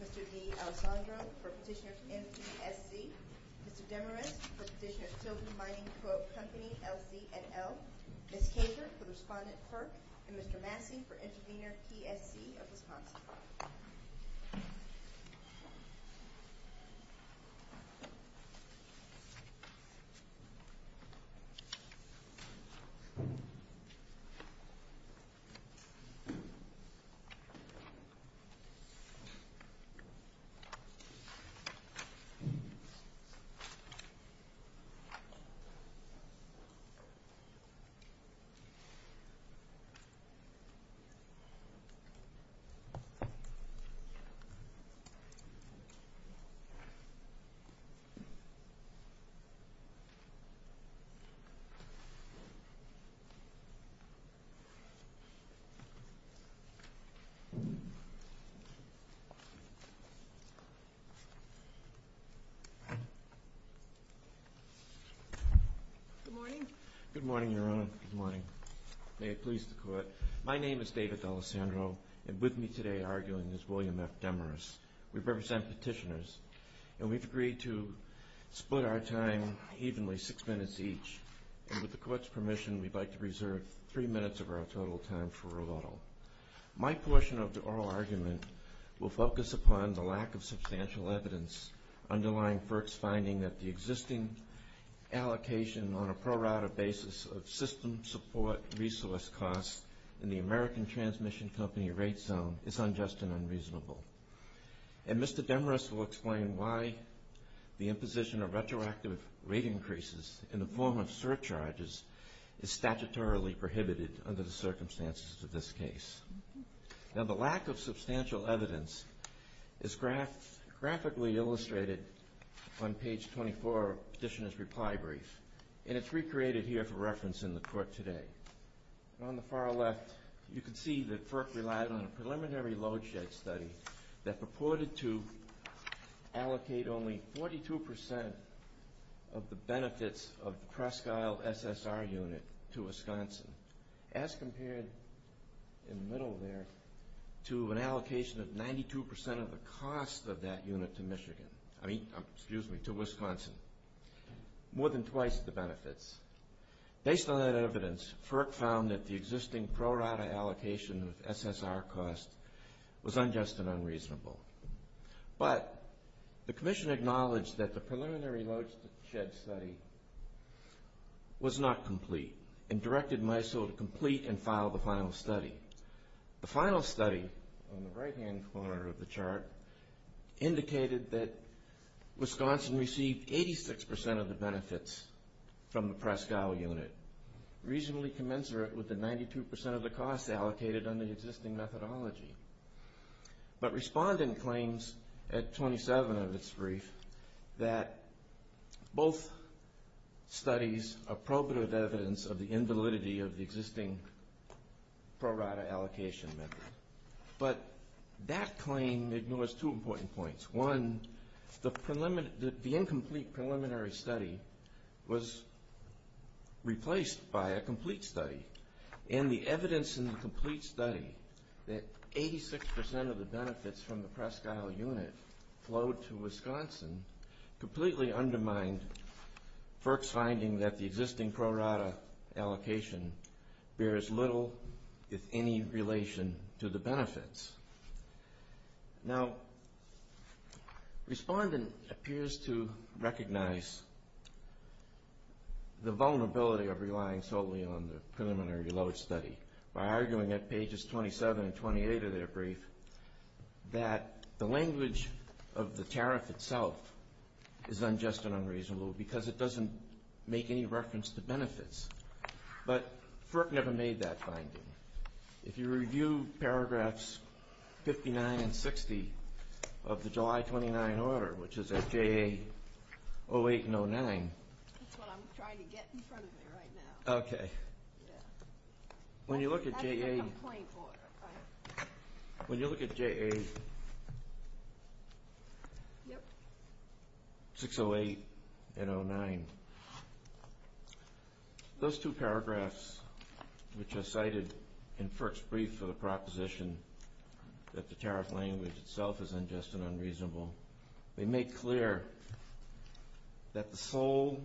Mr. D. Alessandro for Petitioner's MTSC, Mr. Demarest for Petitioner's Silver Mining Co-Op Company LZNL, Ms. Kasher for Respondent FERC, and Mr. Massey for Intervenor PSC of Wisconsin. Mr. D. Alessandro for Petitioner's Silver Mining Co-Op Company LZNL, Ms. Kasher for Intervenor PSC of Wisconsin, and Mr. Massey for Intervenor PSC of Wisconsin, and Ms. Kasher for Intervenor PSC of Wisconsin, and Ms. Kasher for Intervenor PSC of Wisconsin, and Ms. Kasher for Intervenor PSC of Wisconsin, and Ms. Kasher for Intervenor PSC of Wisconsin, and Ms. Kasher for Intervenor of the benefits of the Crescale SSR unit to Wisconsin, as compared in the middle there to an allocation of 92% of the cost of that unit to Michigan, I mean, excuse me, to Wisconsin, more than twice the benefits. Based on that evidence, FERC found that the existing pro rata allocation of SSR cost was unjust and unreasonable. But the commission acknowledged that the preliminary load shed study was not complete and directed MISO to complete and file the final study. The final study, on the right hand corner of the chart, indicated that Wisconsin received 86% of the benefits from the Crescale unit, reasonably commensurate with the 92% of the cost allocated under the existing methodology. But respondent claims, at 27 of its brief, that both studies are probative evidence of the invalidity of the existing pro rata allocation method. But that claim ignores two important points. One, the incomplete preliminary study was replaced by a complete study, and the evidence in the complete study that 86% of the benefits from the Crescale unit flowed to Wisconsin completely undermined FERC's finding that the existing pro rata allocation bears little, if any, relation to the benefits. Now respondent appears to recognize the vulnerability of relying solely on the preliminary load study by arguing, at pages 27 and 28 of their brief, that the language of the tariff itself is unjust and unreasonable because it doesn't make any reference to benefits. But FERC never made that finding. If you review paragraphs 59 and 60 of the July 29 order, which is at JA 08 and 09. That's what I'm trying to get in front of me right now. Okay. Yeah. When you look at JA. That's what you're complaining for, right? When you look at JA 06, 08, and 09, those two paragraphs, which are cited in FERC's brief for the proposition that the tariff language itself is unjust and unreasonable, they make clear that the sole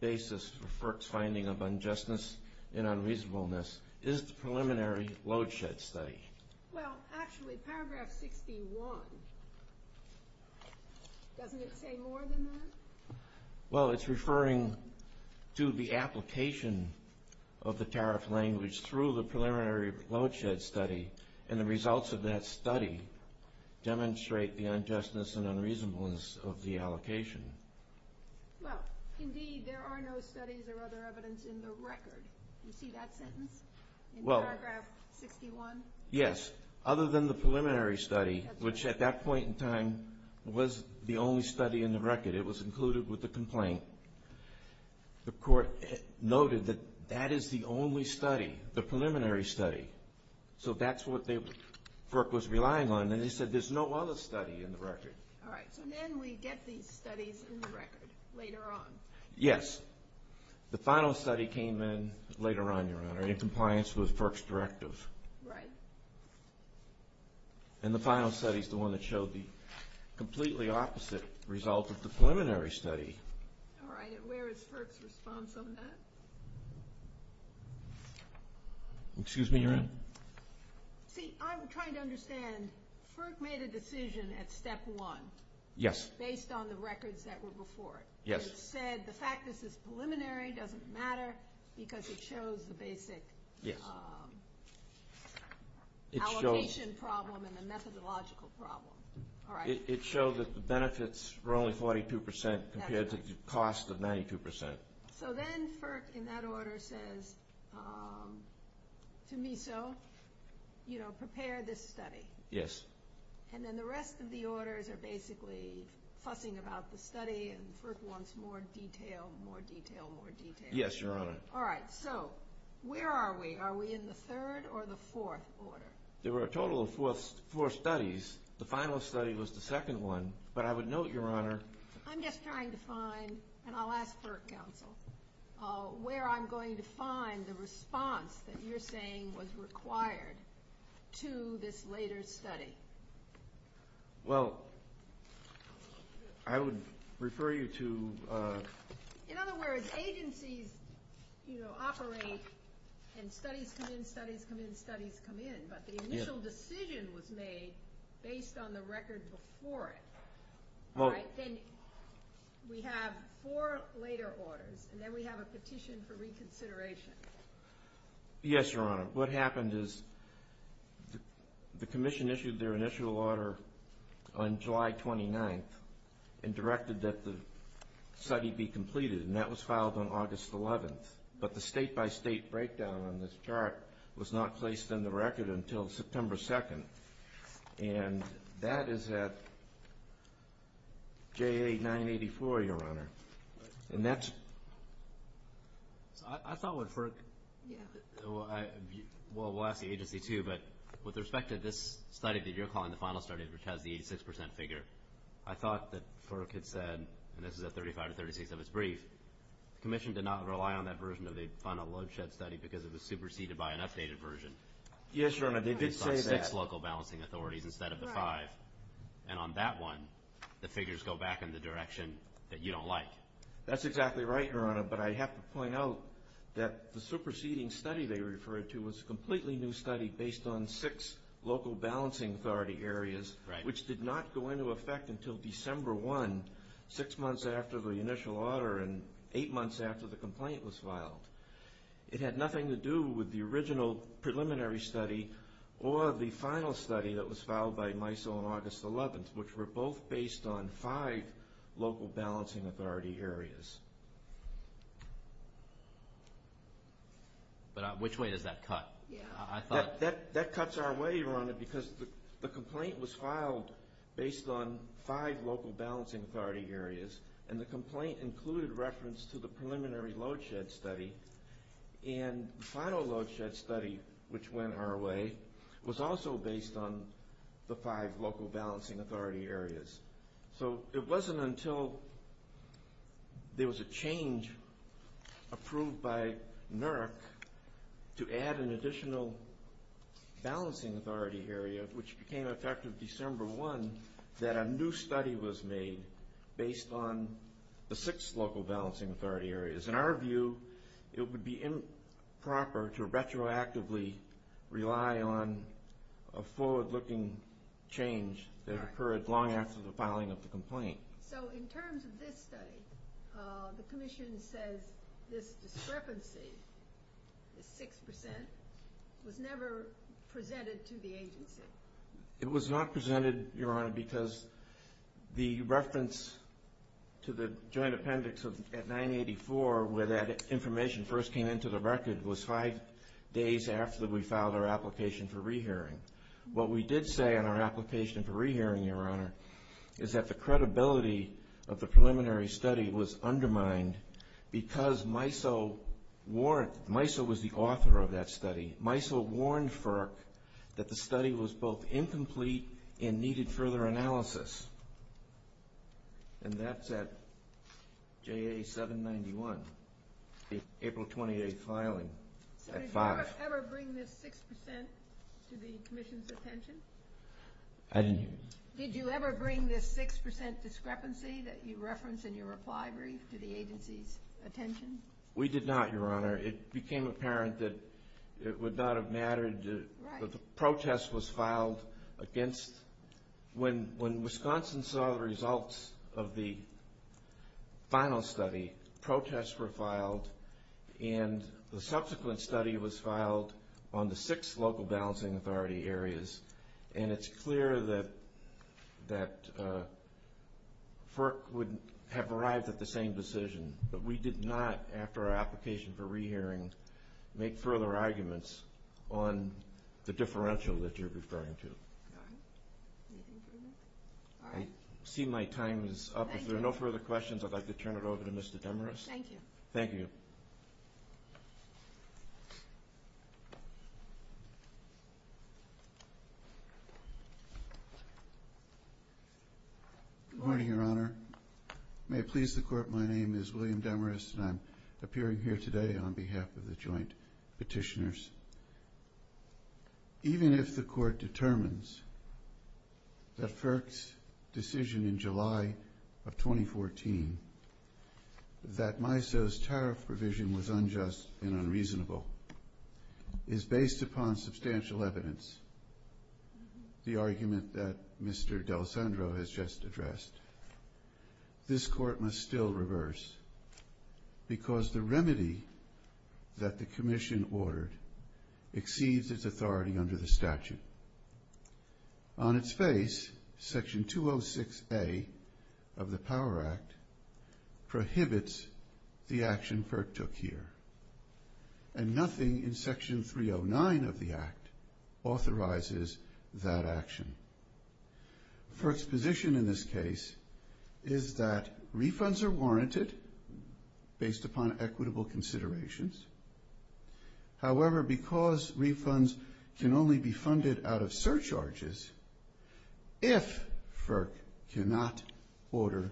basis for FERC's finding of unjustness and unreasonableness is the preliminary load shed study. Well, actually, paragraph 61, doesn't it say more than that? Well, it's referring to the application of the tariff language through the preliminary load shed study, and the results of that study demonstrate the unjustness and unreasonableness of the allocation. Well, indeed, there are no studies or other evidence in the record. Do you see that sentence in paragraph 61? Yes. Other than the preliminary study, which at that point in time was the only study in the record. It was included with the complaint. The court noted that that is the only study, the preliminary study. So that's what FERC was relying on, and they said there's no other study in the record. All right. So then we get these studies in the record later on. Yes. The final study came in later on, Your Honor, in compliance with FERC's directive. Right. And the final study is the one that showed the completely opposite result of the preliminary study. All right. Where is FERC's response on that? Excuse me, Your Honor? See, I'm trying to understand. FERC made a decision at step one. Yes. Based on the records that were before it. Yes. It said the fact that this is preliminary doesn't matter because it shows the basic allocation problem and the methodological problem. All right. It showed that the benefits were only 42 percent compared to the cost of 92 percent. So then FERC in that order says, to me so, you know, prepare this study. Yes. And then the rest of the orders are basically fussing about the study, and FERC wants more detail, more detail, more detail. Yes, Your Honor. All right. So where are we? Are we in the third or the fourth order? There were a total of four studies. The final study was the second one. But I would note, Your Honor— I'm just trying to find, and I'll ask FERC counsel, where I'm going to find the response that you're saying was required to this later study. Well, I would refer you to— In other words, agencies, you know, operate and studies come in, studies come in, studies come in. But the initial decision was made based on the record before it. All right. Then we have four later orders, and then we have a petition for reconsideration. Yes, Your Honor. What happened is the commission issued their initial order on July 29th and directed that the study be completed, and that was filed on August 11th. But the state-by-state breakdown on this chart was not placed in the record until September 2nd, and that is at JA 984, Your Honor. And that's— So I thought what FERC— Yeah. Well, we'll ask the agency too, but with respect to this study that you're calling the final study, which has the 86 percent figure, I thought that FERC had said—and this is at 35 to 36 of its brief—the commission did not rely on that version of the final load shed study because it was superseded by an updated version. Yes, Your Honor. They did say that. It's on six local balancing authorities instead of the five. And on that one, the figures go back in the direction that you don't like. That's exactly right, Your Honor. But I have to point out that the superseding study they referred to was a completely new study based on six local balancing authority areas, which did not go into effect until December 1, six months after the initial order and eight months after the complaint was filed. It had nothing to do with the original preliminary study or the final study that was filed by MISO on August 11th, which were both based on five local balancing authority areas. But which way does that cut? That cuts our way, Your Honor, because the complaint was filed based on five local balancing authority areas, and the complaint included reference to the preliminary load shed study. And the final load shed study, which went our way, was also based on the five local balancing authority areas. So it wasn't until there was a change approved by NERC to add an additional balancing authority area, which became effective December 1, that a new study was made based on the six local balancing authority areas. In our view, it would be improper to retroactively rely on a forward-looking change that occurred long after the filing of the complaint. So in terms of this study, the commission says this discrepancy, the 6%, was never presented to the agency. It was not presented, Your Honor, because the reference to the joint appendix at 984, where that information first came into the record, was five days after we filed our application for rehearing. What we did say in our application for rehearing, Your Honor, is that the credibility of the preliminary study was undermined because MISO was the author of that study. MISO warned FERC that the study was both incomplete and needed further analysis. And that's at JA 791, the April 28 filing. So did you ever bring this 6% to the commission's attention? I didn't hear you. Did you ever bring this 6% discrepancy that you reference in your reply brief to the agency's attention? We did not, Your Honor. It became apparent that it would not have mattered that the protest was filed against When Wisconsin saw the results of the final study, protests were filed, and the subsequent study was filed on the six local balancing authority areas. And it's clear that FERC would have arrived at the same decision. But we did not, after our application for rehearing, make further arguments on the differential that you're referring to. All right. I see my time is up. If there are no further questions, I'd like to turn it over to Mr. Demarest. Thank you. Thank you. Good morning, Your Honor. May it please the Court, my name is William Demarest, and I'm appearing here today on behalf of the joint petitioners. Even if the Court determines that FERC's decision in July of 2014, that MISO's tariff provision was unjust and unreasonable, is based upon substantial evidence, the argument that Mr. D'Alessandro has just addressed, this Court must still reverse, because the exceeds its authority under the statute. On its face, Section 206A of the POWER Act prohibits the action FERC took here, and nothing in Section 309 of the Act authorizes that action. FERC's position in this case is that refunds are warranted based upon equitable considerations. However, because refunds can only be funded out of surcharges, if FERC cannot order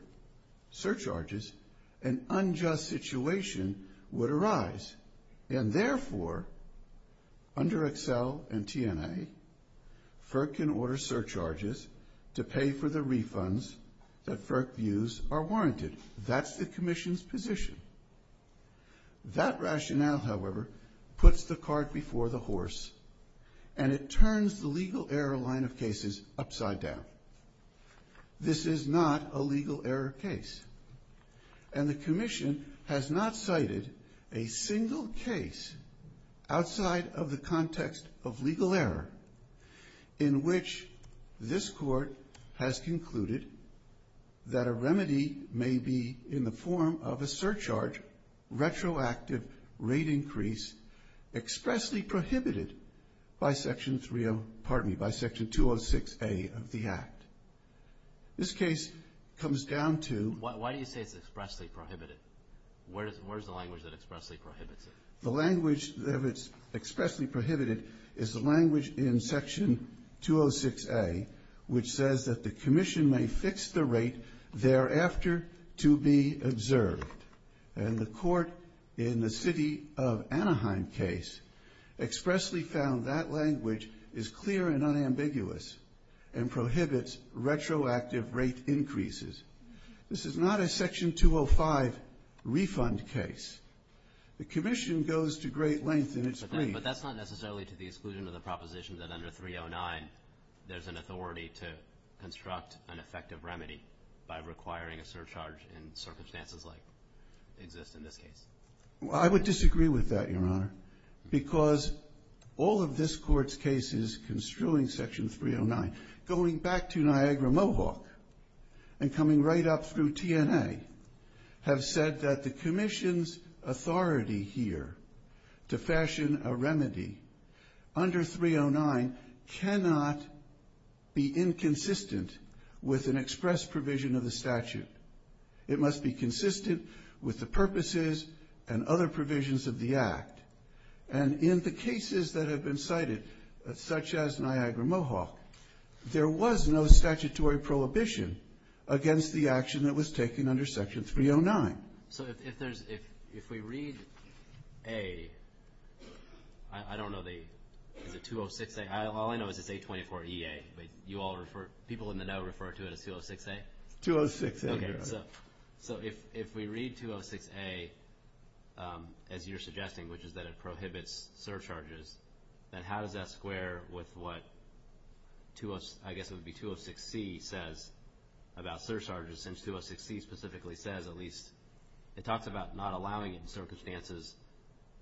surcharges, an unjust situation would arise, and therefore, under Excel and TNA, FERC can order surcharges to pay for the refunds that FERC views are warranted. That's the Commission's position. That rationale, however, puts the cart before the horse, and it turns the legal error line of cases upside down. This is not a legal error case, and the Commission has not cited a single case outside of the context of legal error in which this Court has concluded that a remedy may be in the retroactive rate increase expressly prohibited by Section 309, pardon me, by Section 206A of the Act. This case comes down to why do you say it's expressly prohibited? Where is the language that expressly prohibits it? The language that is expressly prohibited is the language in Section 206A, which says that the Commission may fix the rate thereafter to be observed. And the Court in the City of Anaheim case expressly found that language is clear and unambiguous and prohibits retroactive rate increases. This is not a Section 205 refund case. The Commission goes to great length in its brief. But that's not necessarily to the exclusion of the proposition that under 309, there's an authority to construct an effective remedy by requiring a surcharge in circumstances like exist in this case. Well, I would disagree with that, Your Honor, because all of this Court's cases construing Section 309, going back to Niagara-Mohawk and coming right up through TNA, have said that the Commission's authority here to fashion a remedy under 309 cannot be inconsistent with an express provision of the statute. It must be consistent with the purposes and other provisions of the Act. And in the cases that have been cited, such as Niagara-Mohawk, there was no statutory prohibition against the action that was taken under Section 309. So if there's, if we read a, I don't know the, is it 206A? All I know is it's A24EA, but you all refer, people in the know refer to it as 206A? 206A. So if we read 206A, as you're suggesting, which is that it prohibits surcharges, then how does that square with what, I guess it would be 206C says about surcharges, since 206C specifically says, at least, it talks about not allowing it in circumstances,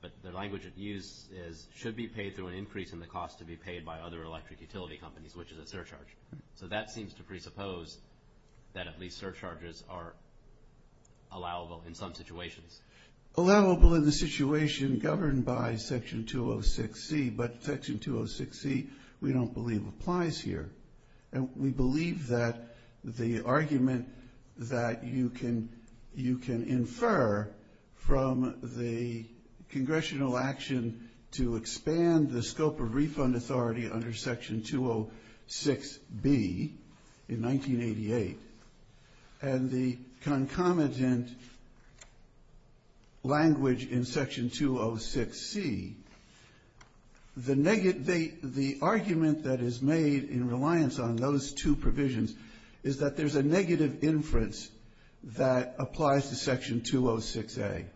but the language it uses is, should be paid through an increase in the cost to be paid by other electric utility companies, which is a surcharge. So that seems to presuppose that at least surcharges are allowable in some situations. Allowable in the situation governed by Section 206C, but Section 206C, we don't believe applies here. And we believe that the argument that you can, you can infer from the congressional action to expand the scope of refund authority under Section 206B in 1988, and the concomitant language in Section 206C, the argument that is made in reliance on those two provisions is that there's a negative inference that applies to Section 206A.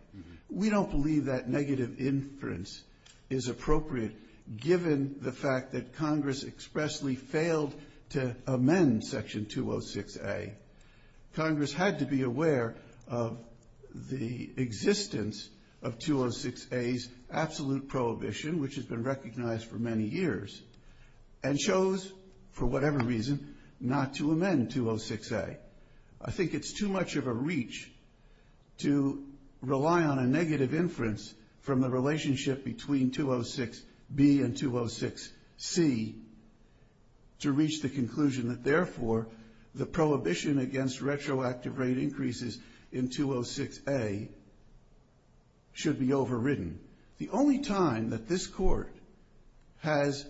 We don't believe that negative inference is appropriate, given the fact that Congress expressly failed to amend Section 206A. Congress had to be aware of the existence of 206A's absolute prohibition, which has been recognized for many years, and chose, for whatever reason, not to amend 206A. I think it's too much of a reach to rely on a negative inference from the relationship between 206B and 206C to reach the conclusion that, therefore, the prohibition against retroactive rate increases in 206A should be overridden. The only time that this Court has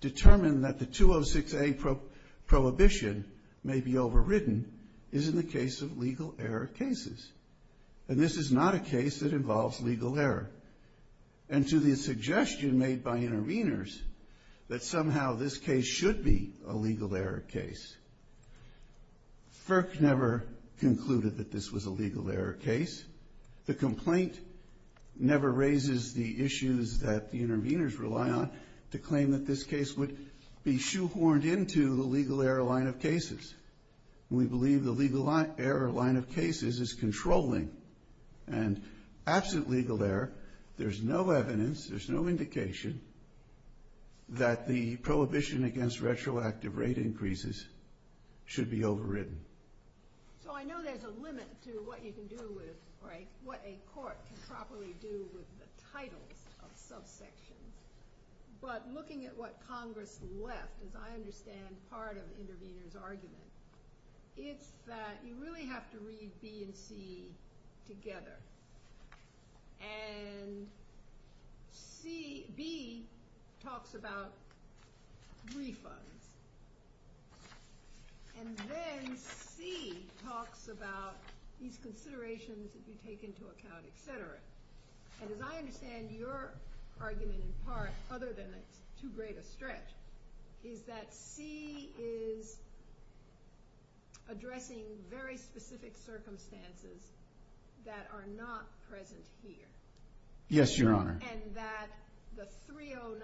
determined that the 206A prohibition may be overridden is in the case of legal error cases. And this is not a case that involves legal error. And to the suggestion made by interveners that somehow this case should be a legal error case, FERC never concluded that this was a legal error case. The complaint never raises the issues that the interveners rely on to claim that this case would be shoehorned into the legal error line of cases. We believe the legal error line of cases is controlling. And absent legal error, there's no evidence, there's no indication that the prohibition against retroactive rate increases should be overridden. So I know there's a limit to what you can do with, or what a court can properly do with the titles of subsection. But looking at what Congress left, as I understand part of the intervener's argument, it's that you really have to read B and C together. And B talks about refunds. And then C talks about these considerations that you take into account, et cetera. And as I understand your argument in part, other than it's too great a stretch, is that C is addressing very specific circumstances that are not present here. Yes, Your Honor. And that the 309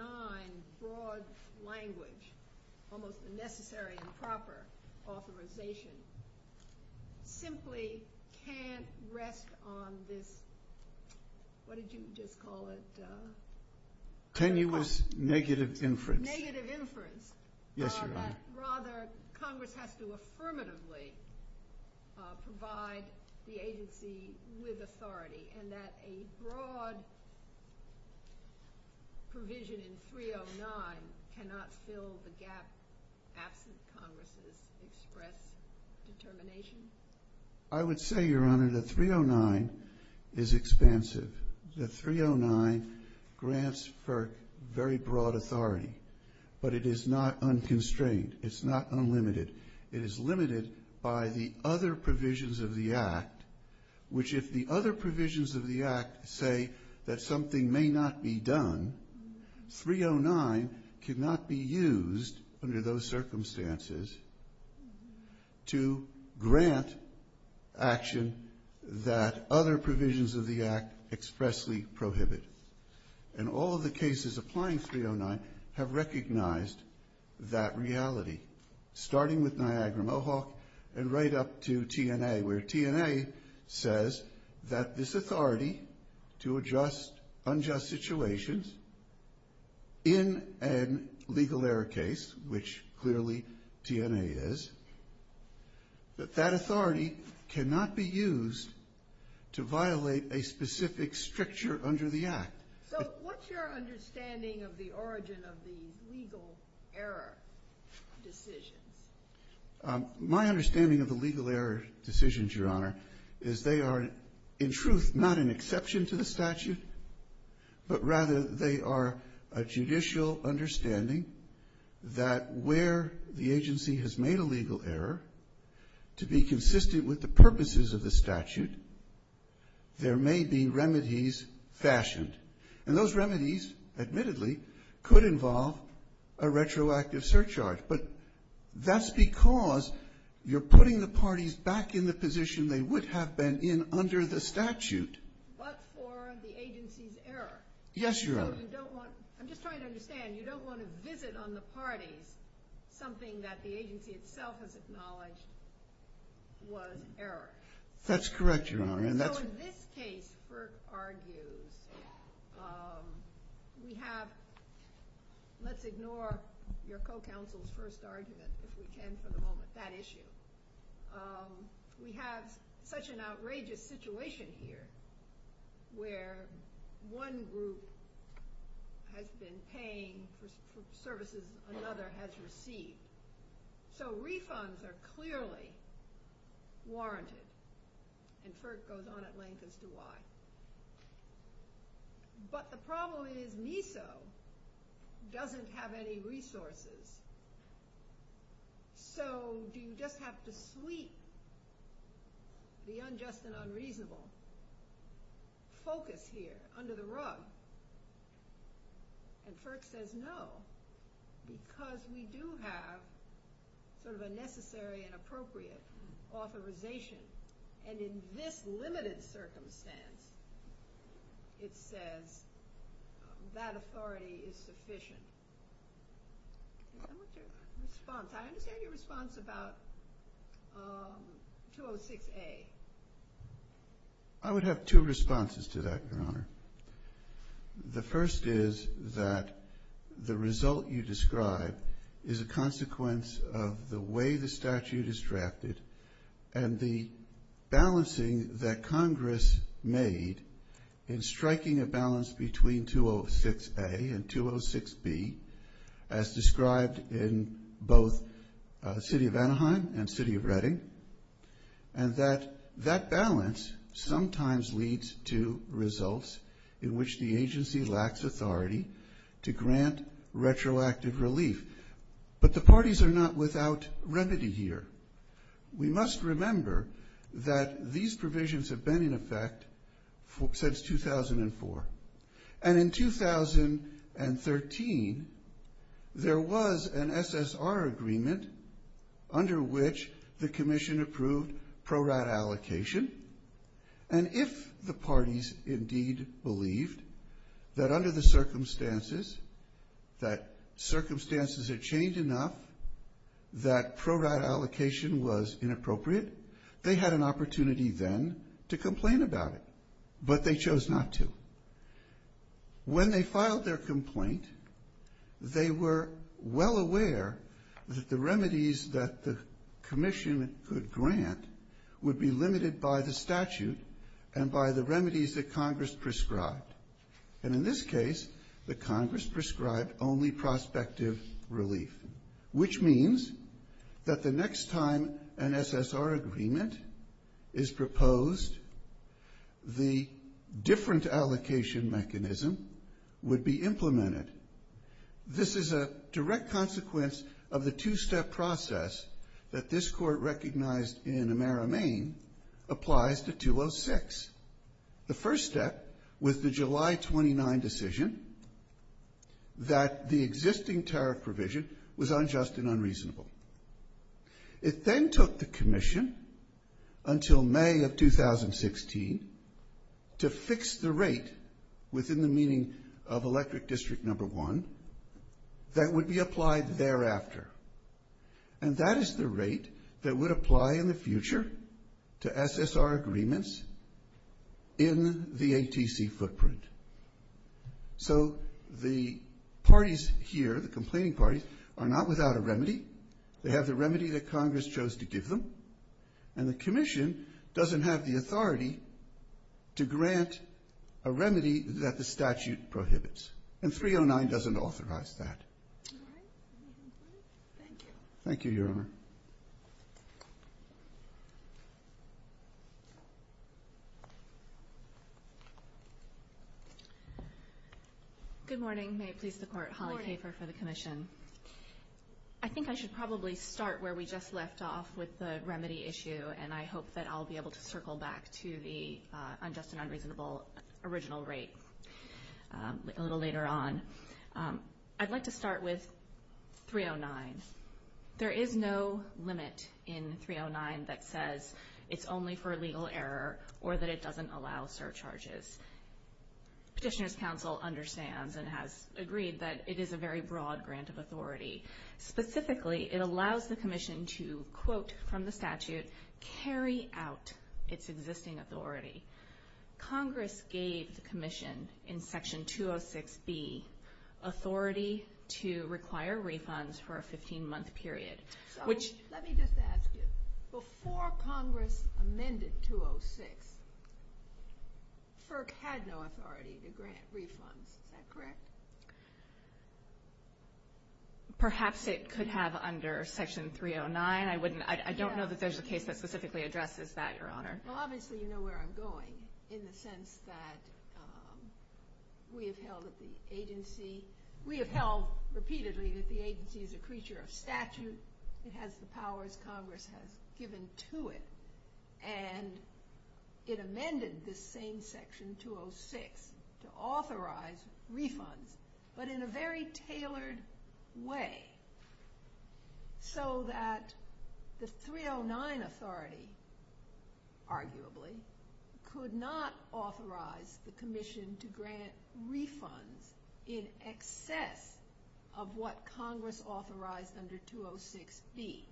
broad language, almost the necessary and proper authorization, simply can't rest on this, what did you just call it? Tenuous negative inference. Negative inference. Yes, Your Honor. Rather, Congress has to affirmatively provide the agency with authority. And that a broad provision in 309 cannot fill the gap absent Congress' express determination? I would say, Your Honor, that 309 is expansive. That 309 grants for very broad authority. But it is not unconstrained. It's not unlimited. It is limited by the other provisions of the Act, which if the other provisions of the Act say that something may not be done, 309 cannot be used under those circumstances to grant action that other provisions of the Act expressly prohibit. And all of the cases applying 309 have recognized that reality. Starting with Niagara-Mohawk and right up to TNA, where TNA says that this authority to adjust unjust situations in a legal error case, which clearly TNA is, that that authority cannot be used to violate a specific stricture under the Act. So what's your understanding of the origin of the legal error decisions? My understanding of the legal error decisions, Your Honor, is they are, in truth, not an exception to the statute, but rather they are a judicial understanding that where the agency has made a legal error, to be consistent with the purposes of the statute, there may be remedies fashioned. And those remedies, admittedly, could involve a retroactive surcharge. But that's because you're putting the parties back in the position they would have been in under the statute. But for the agency's error. Yes, Your Honor. So you don't want, I'm just trying to understand, you don't want to visit on the parties something that the agency itself has acknowledged was error. That's correct, Your Honor. So in this case, Burke argues, we have, let's ignore your co-counsel's first argument, if we can for the moment, that issue. We have such an outrageous situation here, where one group has been paying for services another has received. So refunds are clearly warranted. And Firk goes on at length as to why. But the problem is, NISO doesn't have any resources. So do you just have to sweep the unjust and unreasonable focus here under the rug? And Firk says no, because we do have sort of a necessary and appropriate authorization. And in this limited circumstance, it says that authority is sufficient. I want your response. I understand your response about 206A. I would have two responses to that, Your Honor. The first is that the result you describe is a consequence of the way the statute is drafted and the balancing that Congress made in striking a balance between 206A and 206B, as described in both the city of Anaheim and city of Reading. And that that balance sometimes leads to results in which the agency lacks authority to grant retroactive relief. But the parties are not without remedy here. We must remember that these provisions have been in effect since 2004. And in 2013, there was an SSR agreement under which the commission approved prorate allocation. And if the parties indeed believed that under the circumstances, that circumstances had changed enough, that prorate allocation was inappropriate, they had an opportunity then to complain about it. But they chose not to. When they filed their complaint, they were well aware that the remedies that the commission could grant would be limited by the statute and by the remedies that Congress prescribed. And in this case, the Congress prescribed only prospective relief, which means that the next time an SSR agreement is proposed, the different allocation mechanism would be implemented. This is a direct consequence of the two-step process that this court recognized in Amera Maine applies to 206. The first step was the July 29 decision that the existing tariff provision was unjust and unreasonable. It then took the commission until May of 2016 to fix the rate within the meaning of electric district number one that would be applied thereafter. And that is the rate that would apply in the future to SSR agreements in the ATC footprint. So the parties here, the complaining parties, are not without a remedy. They have the remedy that Congress chose to give them. And the commission doesn't have the authority to grant a remedy that the statute prohibits. And 309 doesn't authorize that. Thank you, Your Honor. Good morning. May it please the Court. Holly Caper for the commission. I think I should probably start where we just left off with the remedy issue, and I hope that I'll be able to circle back to the unjust and unreasonable original rate a little later on. I'd like to start with 309. There is no limit in 309 that says it's only for legal error or that it doesn't allow surcharges. Petitioner's counsel understands and has agreed that it is a very broad grant of authority. Specifically, it allows the commission to, quote, from the statute, carry out its existing authority. Congress gave the commission in section 206B authority to require refunds for a 15-month period, which... had no authority to grant refunds. Is that correct? Perhaps it could have under section 309. I don't know that there's a case that specifically addresses that, Your Honor. Well, obviously, you know where I'm going in the sense that we have held repeatedly that the agency is a creature of statute. It has the powers Congress has given to it. And it amended this same section 206 to authorize refunds, but in a very tailored way. So that the 309 authority, arguably, could not authorize the commission to grant refunds in excess of what Congress authorized under 206B.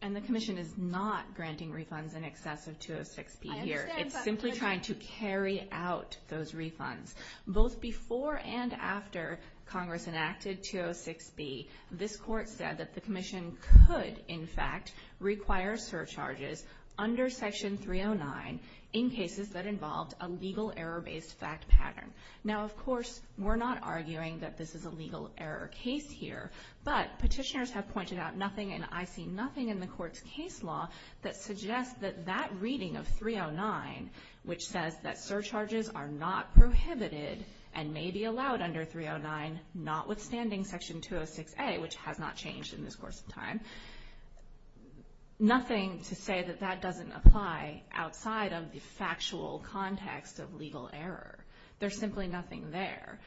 And the commission is not granting refunds in excess of 206B here. I understand, but... It's simply trying to carry out those refunds. Both before and after Congress enacted 206B, this court said that the commission could, in fact, require surcharges under section 309 in cases that involved a legal error-based fact pattern. Now, of course, we're not arguing that this is a legal error case here, but petitioners have pointed out nothing and I see nothing in the court's case law that suggests that that reading of 309, which says that surcharges are not prohibited and may be allowed under 309, notwithstanding section 206A, which has not changed in this course of time, nothing to say that that doesn't apply outside of the factual context of legal error. There's simply nothing there.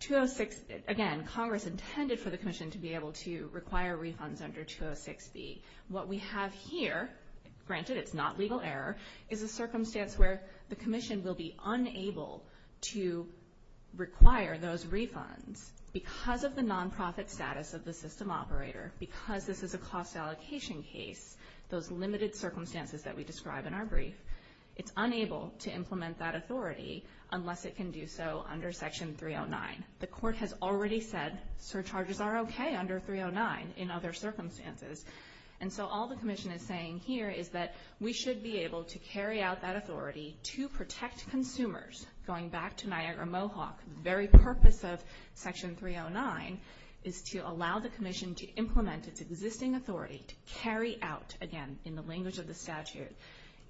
206... Again, Congress intended for the commission to be able to require refunds under 206B. What we have here, granted it's not legal error, is a circumstance where the commission will be unable to require those refunds because of the nonprofit status of the system operator, because this is a cost allocation case, those limited circumstances that we describe in our brief. It's unable to implement that authority unless it can do so under section 309. The court has already said surcharges are okay under 309 in other circumstances. And so all the commission is saying here is that we should be able to carry out that authority to protect consumers, going back to Niagara Mohawk, the very purpose of section 309 is to allow the commission to implement its existing authority to carry out, again, in the language of the statute,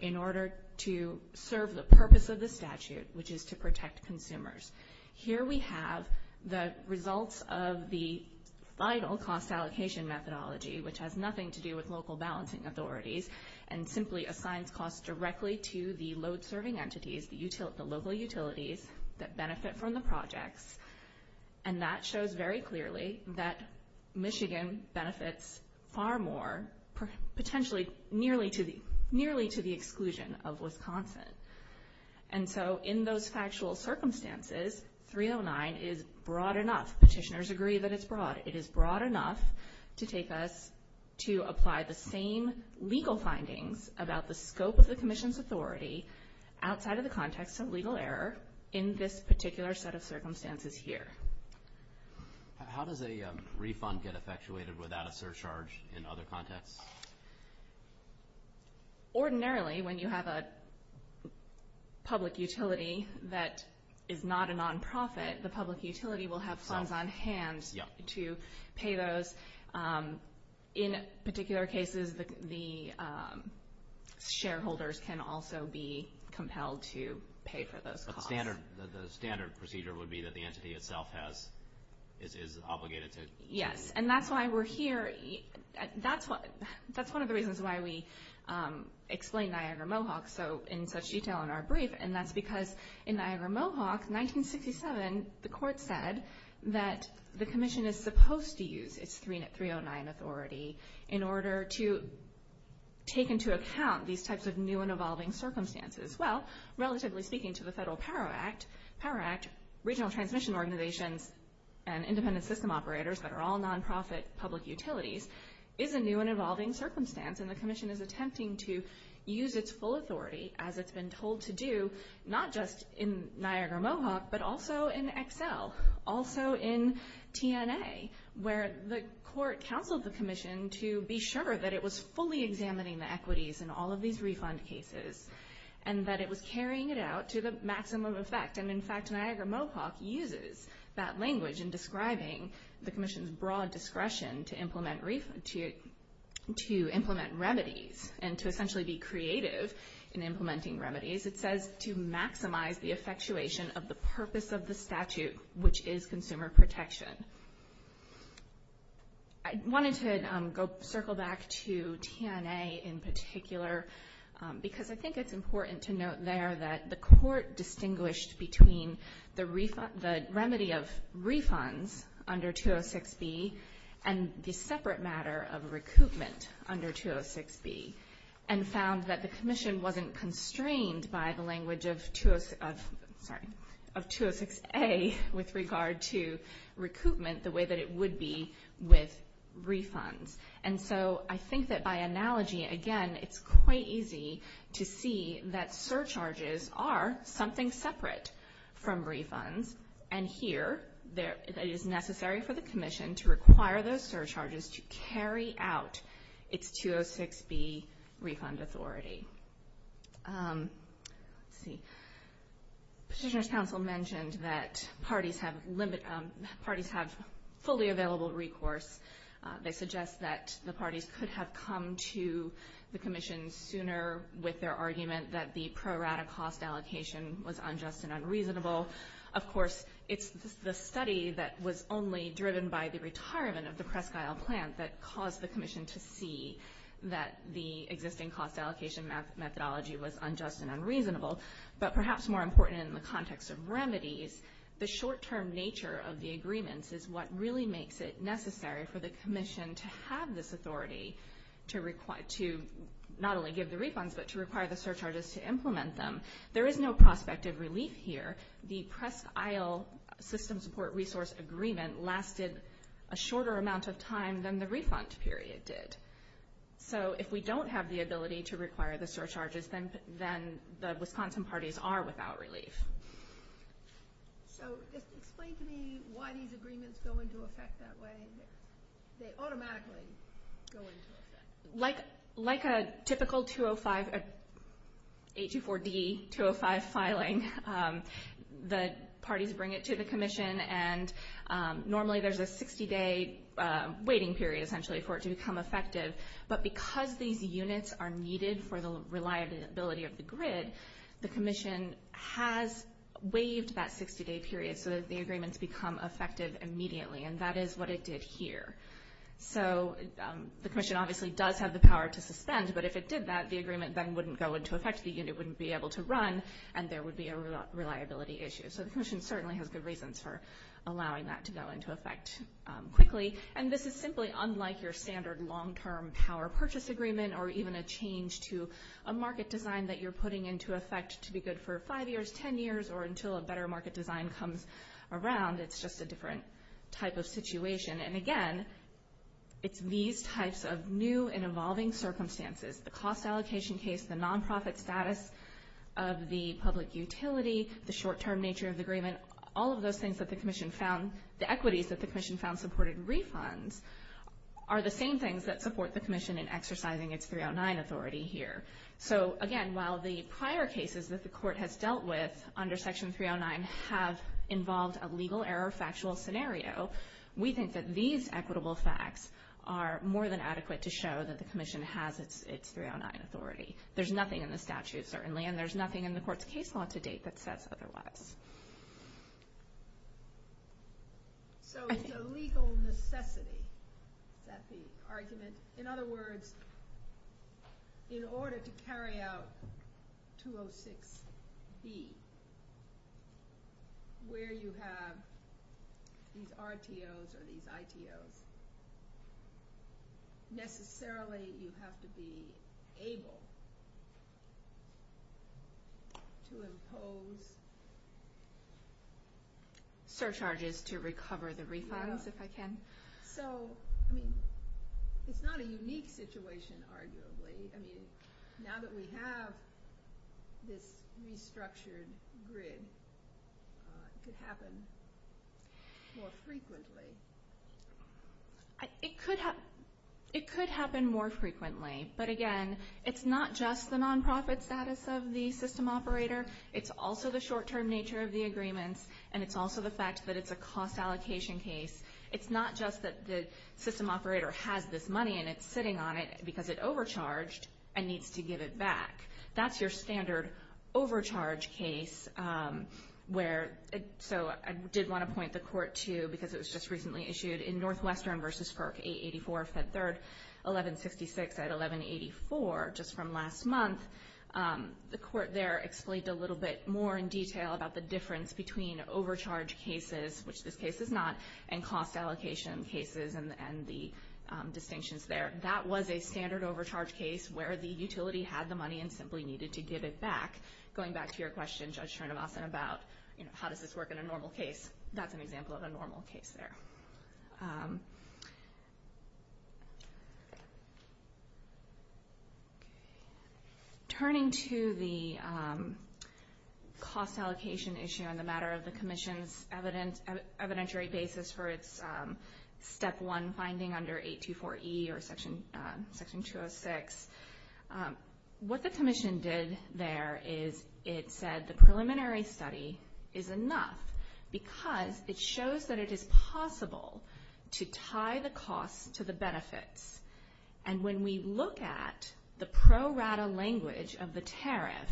in order to serve the purpose of the statute, which is to protect consumers. Here we have the results of the final cost allocation methodology, which has nothing to do with local balancing authorities, and simply assigns costs directly to the load serving entities, the local utilities that benefit from the projects. And that shows very clearly that Michigan benefits far more, potentially nearly to the exclusion of Wisconsin. And so in those factual circumstances, 309 is broad enough, petitioners agree that it's broad, it is broad enough to take us to apply the same legal findings about the scope of the commission's authority, outside of the context of legal error, in this particular set of circumstances here. How does a refund get effectuated without a surcharge in other contexts? Ordinarily when you have a public utility that is not a non-profit, the public utility will have funds on hand to pay those. In particular cases, the shareholders can also be compelled to pay for those costs. So the standard procedure would be that the entity itself is obligated to pay? Yes. And that's why we're here. That's one of the reasons why we explained Niagara-Mohawk in such detail in our brief, and that's because in Niagara-Mohawk, 1967, the court said that the commission is supposed to use its 309 authority in order to take into account these types of new and evolving circumstances. Well, relatively speaking to the Federal Power Act, Power Act, regional transmission organizations, and independent system operators that are all non-profit public utilities, is a new and evolving circumstance, and the commission is attempting to use its full authority as it's been told to do, not just in Niagara-Mohawk, but also in Excel, also in TNA, where the court counseled the commission to be sure that it was fully examining the equities in all of these refund cases, and that it was carrying it out to the maximum effect. And in fact, Niagara-Mohawk uses that language in describing the commission's broad discretion to implement remedies, and to essentially be creative in implementing remedies. It says to maximize the effectuation of the purpose of the statute, which is consumer protection. I wanted to circle back to TNA in particular, because I think it's important to note there that the court distinguished between the remedy of refunds under 206B, and the separate matter of recoupment under 206B, and found that the commission wasn't constrained by the language of 206A with regard to recoupment the way that it would be with refunds. And so I think that by analogy, again, it's quite easy to see that surcharges are something separate from refunds, and here, it is necessary for the commission to require those surcharges to carry out its 206B refund authority. Let's see, Petitioner's Council mentioned that parties have fully available recourse. They suggest that the parties could have come to the commission sooner with their argument that the pro rata cost allocation was unjust and unreasonable. Of course, it's the study that was only driven by the retirement of the Presque Isle plant that caused the commission to see that the existing cost allocation methodology was unjust and unreasonable. But perhaps more important in the context of remedies, the short-term nature of the agreements is what really makes it necessary for the commission to have this authority to not only give the refunds, but to require the surcharges to implement them. There is no prospect of relief here. The Presque Isle system support resource agreement lasted a shorter amount of time than the refund period did. So if we don't have the ability to require the surcharges, then the Wisconsin parties are without relief. So just explain to me why these agreements go into effect that way. They automatically go into effect. Like a typical 804D-205 filing, the parties bring it to the commission, and normally there's a 60-day waiting period essentially for it to become effective. But because these units are needed for the reliability of the grid, the commission has waived that 60-day period so that the agreements become effective immediately. And that is what it did here. So the commission obviously does have the power to suspend, but if it did that, the agreement then wouldn't go into effect, the unit wouldn't be able to run, and there would be a reliability issue. So the commission certainly has good reasons for allowing that to go into effect quickly. And this is simply unlike your standard long-term power purchase agreement or even a change to a market design that you're putting into effect to be good for five years, ten years, or until a better market design comes around. It's just a different type of situation. And again, it's these types of new and evolving circumstances, the cost allocation case, the nonprofit status of the public utility, the short-term nature of the agreement, all of those things that the commission found, the equities that the commission found supported refunds, are the same things that support the commission in exercising its 309 authority here. So again, while the prior cases that the court has dealt with under Section 309 have involved a legal error factual scenario, we think that these equitable facts are more than adequate to show that the commission has its 309 authority. There's nothing in the statute, certainly, and there's nothing in the court's case law to date that says otherwise. So it's a legal necessity that the argument—in other words, in order to carry out 206B, where you have these RTOs or these ITOs, necessarily you have to be able to impose surcharges to recover the refunds, if I can. So, I mean, it's not a unique situation, arguably. I mean, now that we have this restructured grid, it could happen more frequently. It could happen more frequently, but again, it's not just the nonprofit status of the system operator, it's also the short-term nature of the agreements, and it's also the fact that it's a cost allocation case. It's not just that the system operator has this money and it's sitting on it because it overcharged and needs to give it back. That's your standard overcharge case where—so I did want to point the court to, because it was just recently issued, in Northwestern v. FERC 884, Fed 3rd, 1166 at 1184, just from last month. The court there explained a little bit more in detail about the difference between overcharge cases, which this case is not, and cost allocation cases and the distinctions there. That was a standard overcharge case where the utility had the money and simply needed to give it back. Going back to your question, Judge Srinivasan, about how does this work in a normal case, that's an example of a normal case there. Turning to the cost allocation issue and the matter of the Commission's evidentiary basis for its Step 1 finding under 824E or Section 206, what the Commission did there is it said the preliminary study is enough because it shows that it is possible to tie the costs to the benefits. When we look at the pro rata language of the tariff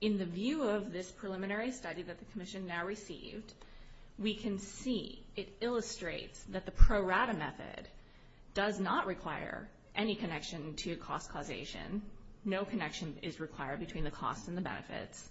in the view of this preliminary study that the Commission now received, we can see it illustrates that the pro rata method does not require any connection to cost causation. No connection is required between the costs and the benefits.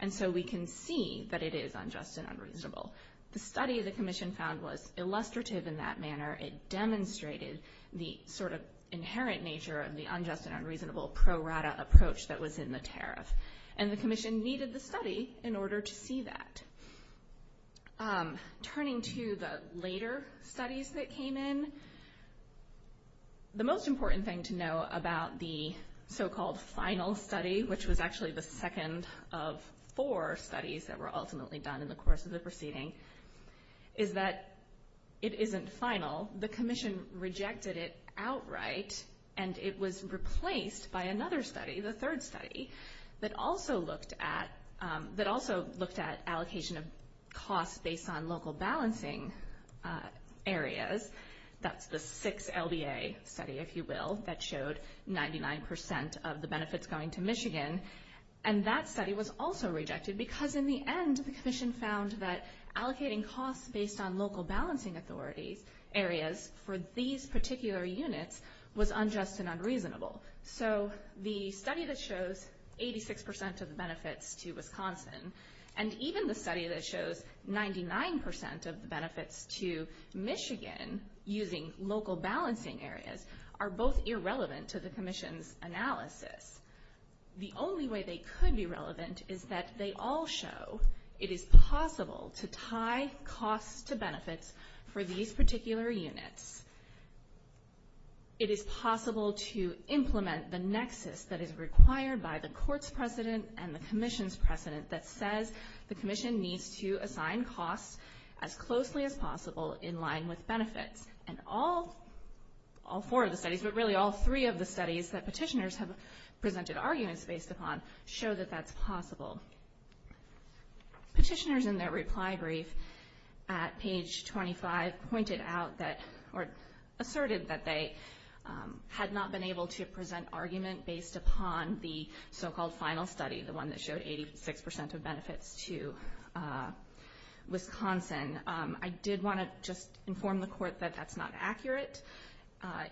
And so we can see that it is unjust and unreasonable. The study the Commission found was illustrative in that manner. It demonstrated the sort of inherent nature of the unjust and unreasonable pro rata approach that was in the tariff. And the Commission needed the study in order to see that. Turning to the later studies that came in, the most important thing to know about the so-called final study, which was actually the second of four studies that were ultimately done in the course of the proceeding, is that it isn't final. The Commission rejected it outright and it was replaced by another study, the third study, that also looked at allocation of costs based on local balancing areas. That's the six LBA study, if you will, that showed 99% of the benefits going to Michigan. And that study was also rejected because in the end the Commission found that allocating costs based on local balancing areas for these particular units was unjust and unreasonable. So the study that shows 86% of the benefits to Wisconsin and even the study that shows 99% of the benefits to Michigan using local balancing areas are both irrelevant to the Commission's analysis. The only way they could be relevant is that they all show it is possible to tie costs to benefits for these particular units. It is possible to implement the nexus that is required by the Court's precedent and the Commission's precedent that says the Commission needs to assign costs as closely as possible in line with benefits. And all four of the studies, but really all three of the studies that petitioners have presented arguments based upon, show that that's possible. Petitioners in their reply brief at page 25 pointed out that, or asserted that they had not been able to present argument based upon the so-called final study, the one that showed 86% of benefits to Wisconsin. I did want to just inform the Court that that's not accurate.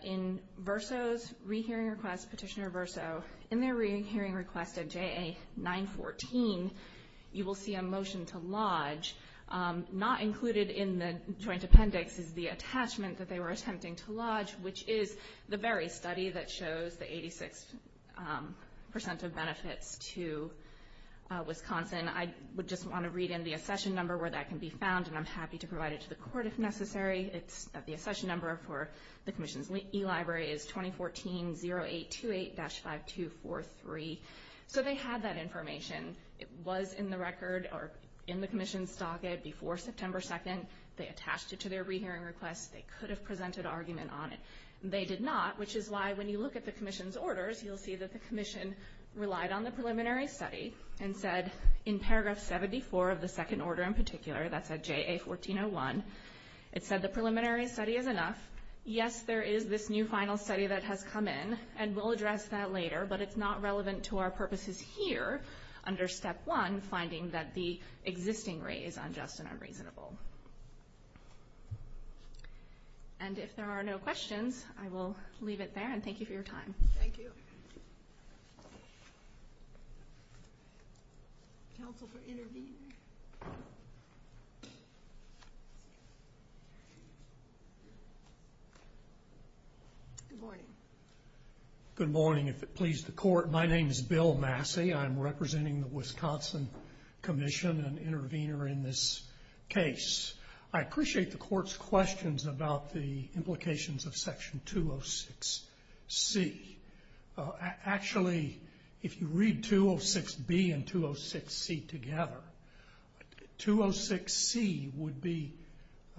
In Verso's rehearing request, Petitioner Verso, in their rehearing request at JA 914, you will see a motion to lodge. Not included in the joint appendix is the attachment that they were attempting to lodge, which is the very study that shows the 86% of benefits to Wisconsin. I would just want to read in the accession number where that can be found, and I'm happy to provide it to the Court if necessary. It's the accession number for the Commission's eLibrary is 2014-0828-5243. So they had that information. It was in the record or in the Commission's docket before September 2nd. They attached it to their rehearing request. They could have presented argument on it. They did not, which is why when you look at the Commission's orders, you'll see that the Commission relied on the preliminary study and said in paragraph 74 of the second order in particular, that's at JA 1401, it said the preliminary study is enough. Yes, there is this new final study that has come in, and we'll address that later, but it's not relevant to our purposes here under Step 1, finding that the existing rate is unjust and unreasonable. And if there are no questions, I will leave it there, and thank you for your time. Thank you. Counsel for intervening. Good morning. Good morning. If it pleases the Court, my name is Bill Massey. I'm representing the Wisconsin Commission, an intervener in this case. I appreciate the Court's questions about the implications of Section 206C. Actually, if you read 206B and 206C together, 206C would be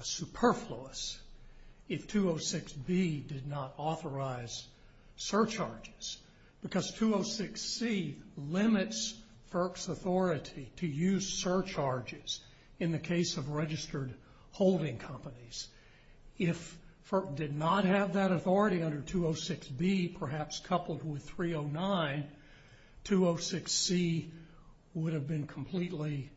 superfluous if 206B did not authorize surcharges, because 206C limits FERC's authority to use surcharges in the registered holding companies. If FERC did not have that authority under 206B, perhaps coupled with 309, 206C would have been completely,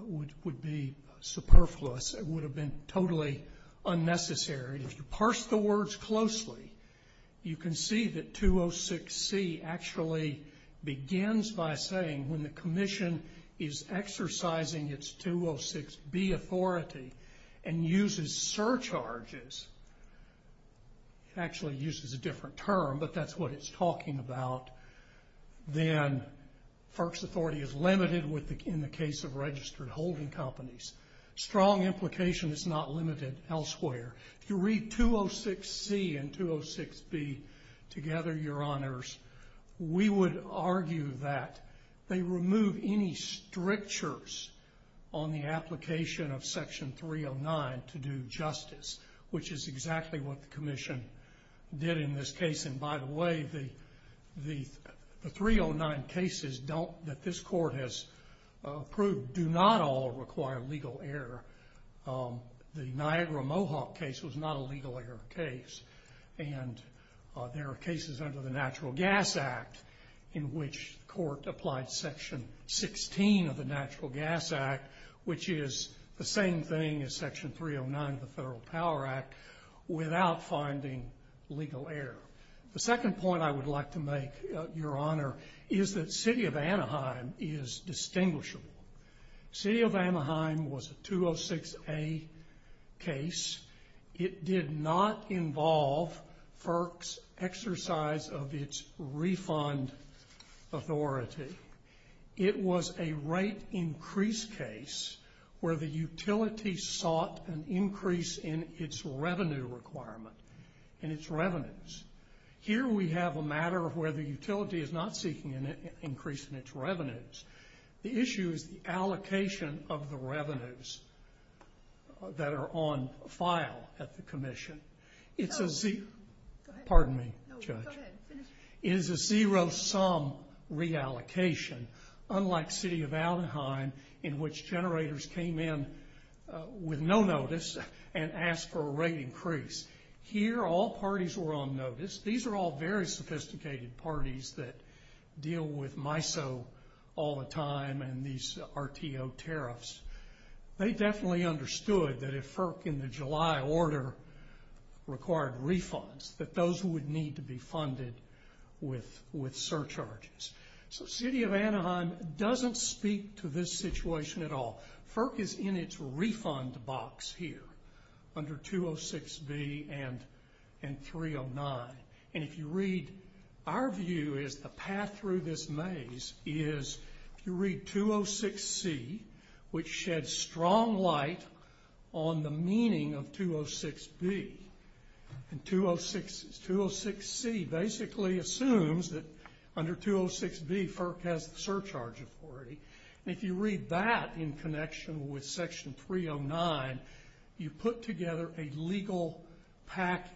would be superfluous. It would have been totally unnecessary. If you parse the words closely, you can see that 206C actually begins by saying when the uses surcharges, actually uses a different term, but that's what it's talking about, then FERC's authority is limited in the case of registered holding companies. Strong implication is not limited elsewhere. If you read 206C and 206B together, Your Honors, we would argue that they remove any strictures on the application of Section 309 to do justice, which is exactly what the Commission did in this case. By the way, the 309 cases that this Court has approved do not all require legal error. The Niagara Mohawk case was not a legal error case. There are cases under the Natural Gas Act in which the Court applied Section 16 of the Natural Gas Act, which is the same thing as Section 309 of the Federal Power Act, without finding legal error. The second point I would like to make, Your Honor, is that City of Anaheim is distinguishable. City of Anaheim was a 206A case. It did not involve FERC's exercise of its refund authority. It was a rate increase case where the utility sought an increase in its revenue requirement, in its revenues. Here we have a matter where the utility is not seeking an increase in its revenues. The issue is the allocation of the revenues that are on file at the Commission. Pardon me, Judge. It is a zero-sum reallocation, unlike City of Anaheim, in which generators came in with no notice and asked for a rate increase. Here all parties were on notice. These are all very sophisticated parties that deal with MISO all the time and these RTO tariffs. They definitely understood that if FERC in the July order required refunds, that those would need to be funded with surcharges. So City of Anaheim doesn't speak to this situation at all. FERC is in its refund box here under 206B and 309. And if you read, our view is the path through this maze is if you read 206C, which sheds strong light on the meaning of 206B. And 206C basically assumes that under 206B FERC has the surcharge authority. And if you read that in connection with Section 309, you put together a legal package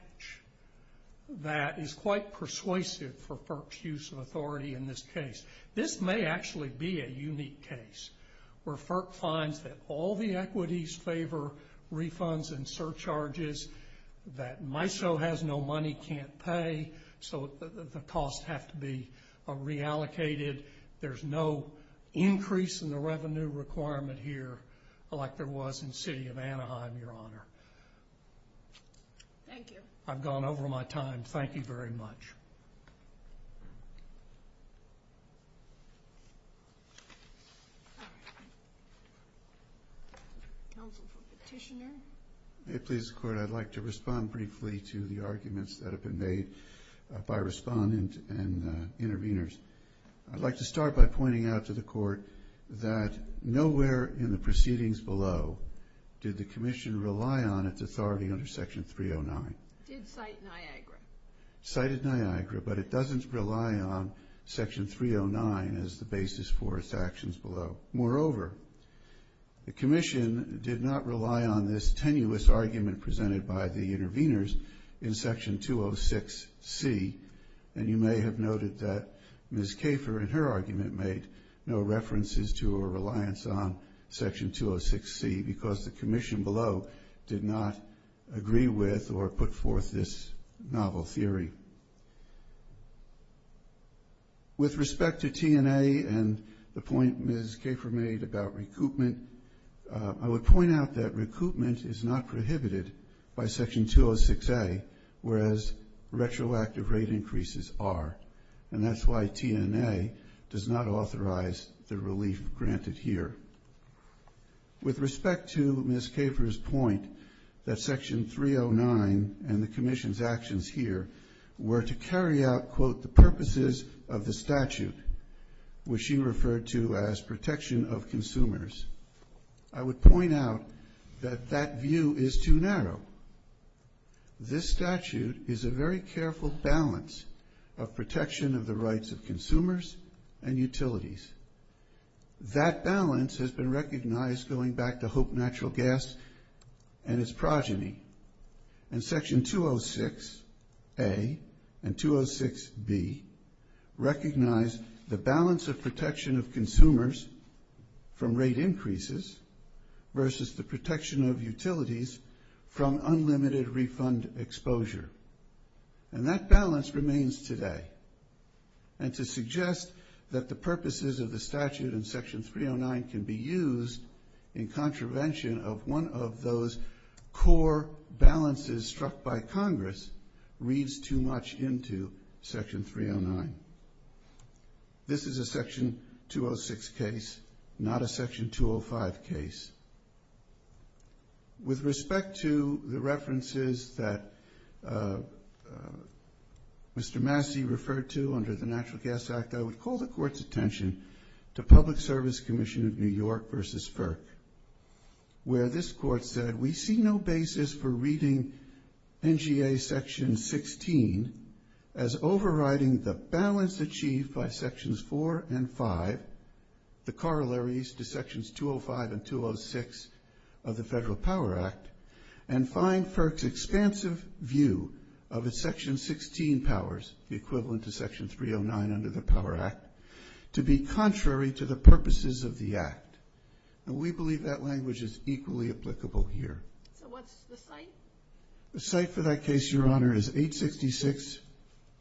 that is quite persuasive for FERC's use of authority in this case. This may actually be a unique case where FERC finds that all the equities favor refunds and surcharges, that MISO has no money, can't pay, so the costs have to be reallocated. There's no increase in the revenue requirement here like there was in City of Anaheim, Your Honor. Thank you. I've gone over my time. Thank you very much. Counsel for Petitioner. May it please the Court, I'd like to respond briefly to the arguments that have been made by respondent and interveners. I'd like to start by pointing out to the Court that nowhere in the proceedings below did the Commission rely on its authority under Section 309. It did cite Niagara. Cited Niagara, but it doesn't rely on Section 309 as the basis for its actions below. Moreover, the Commission did not rely on this tenuous argument presented by the interveners in Section 206C. And you may have noted that Ms. Kafer in her argument made no references to or reliance on Section 206C because the Commission below did not agree with or put forth this novel theory. With respect to T&A and the point Ms. Kafer made about recoupment, I would point out that recoupment is not prohibited by Section 206A, whereas retroactive rate increases are, and that's why T&A does not authorize the relief granted here. With respect to Ms. Kafer's point that Section 309 and the Commission's actions here were to carry out, quote, the purposes of the statute, which she referred to as protection of consumers, I would point out that that view is too narrow. This statute is a very careful balance of protection of the rights of consumers and utilities. That balance has been recognized going back to Hope Natural Gas and its progeny. And Section 206A and 206B recognize the balance of protection of consumers from rate increases versus the protection of utilities from unlimited refund exposure. And that balance remains today. And to suggest that the purposes of the statute in Section 309 can be used in contravention of one of those core balances struck by Congress reads too much into Section 309. This is a Section 206 case, not a Section 205 case. With respect to the references that Mr. Massey referred to under the Natural Gas Act, I would call the Court's attention to Public Service Commission of New York versus FERC, where this Court said we see no basis for reading NGA Section 16 as overriding the balance achieved by Sections 4 and 5, the corollaries to Sections 205 and 206 of the Federal Power Act, and find FERC's expansive view of its Section 16 powers, the equivalent to Section 309 under the Power Act, to be contrary to the purposes of the Act. And we believe that language is equally applicable here. So what's the site? The site for that case, Your Honor, is 866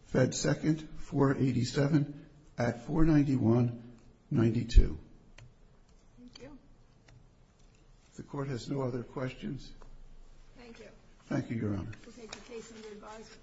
Fed 2nd 487 at 491-92. Thank you. If the Court has no other questions. Thank you. Thank you, Your Honor. We'll take the case under advisory.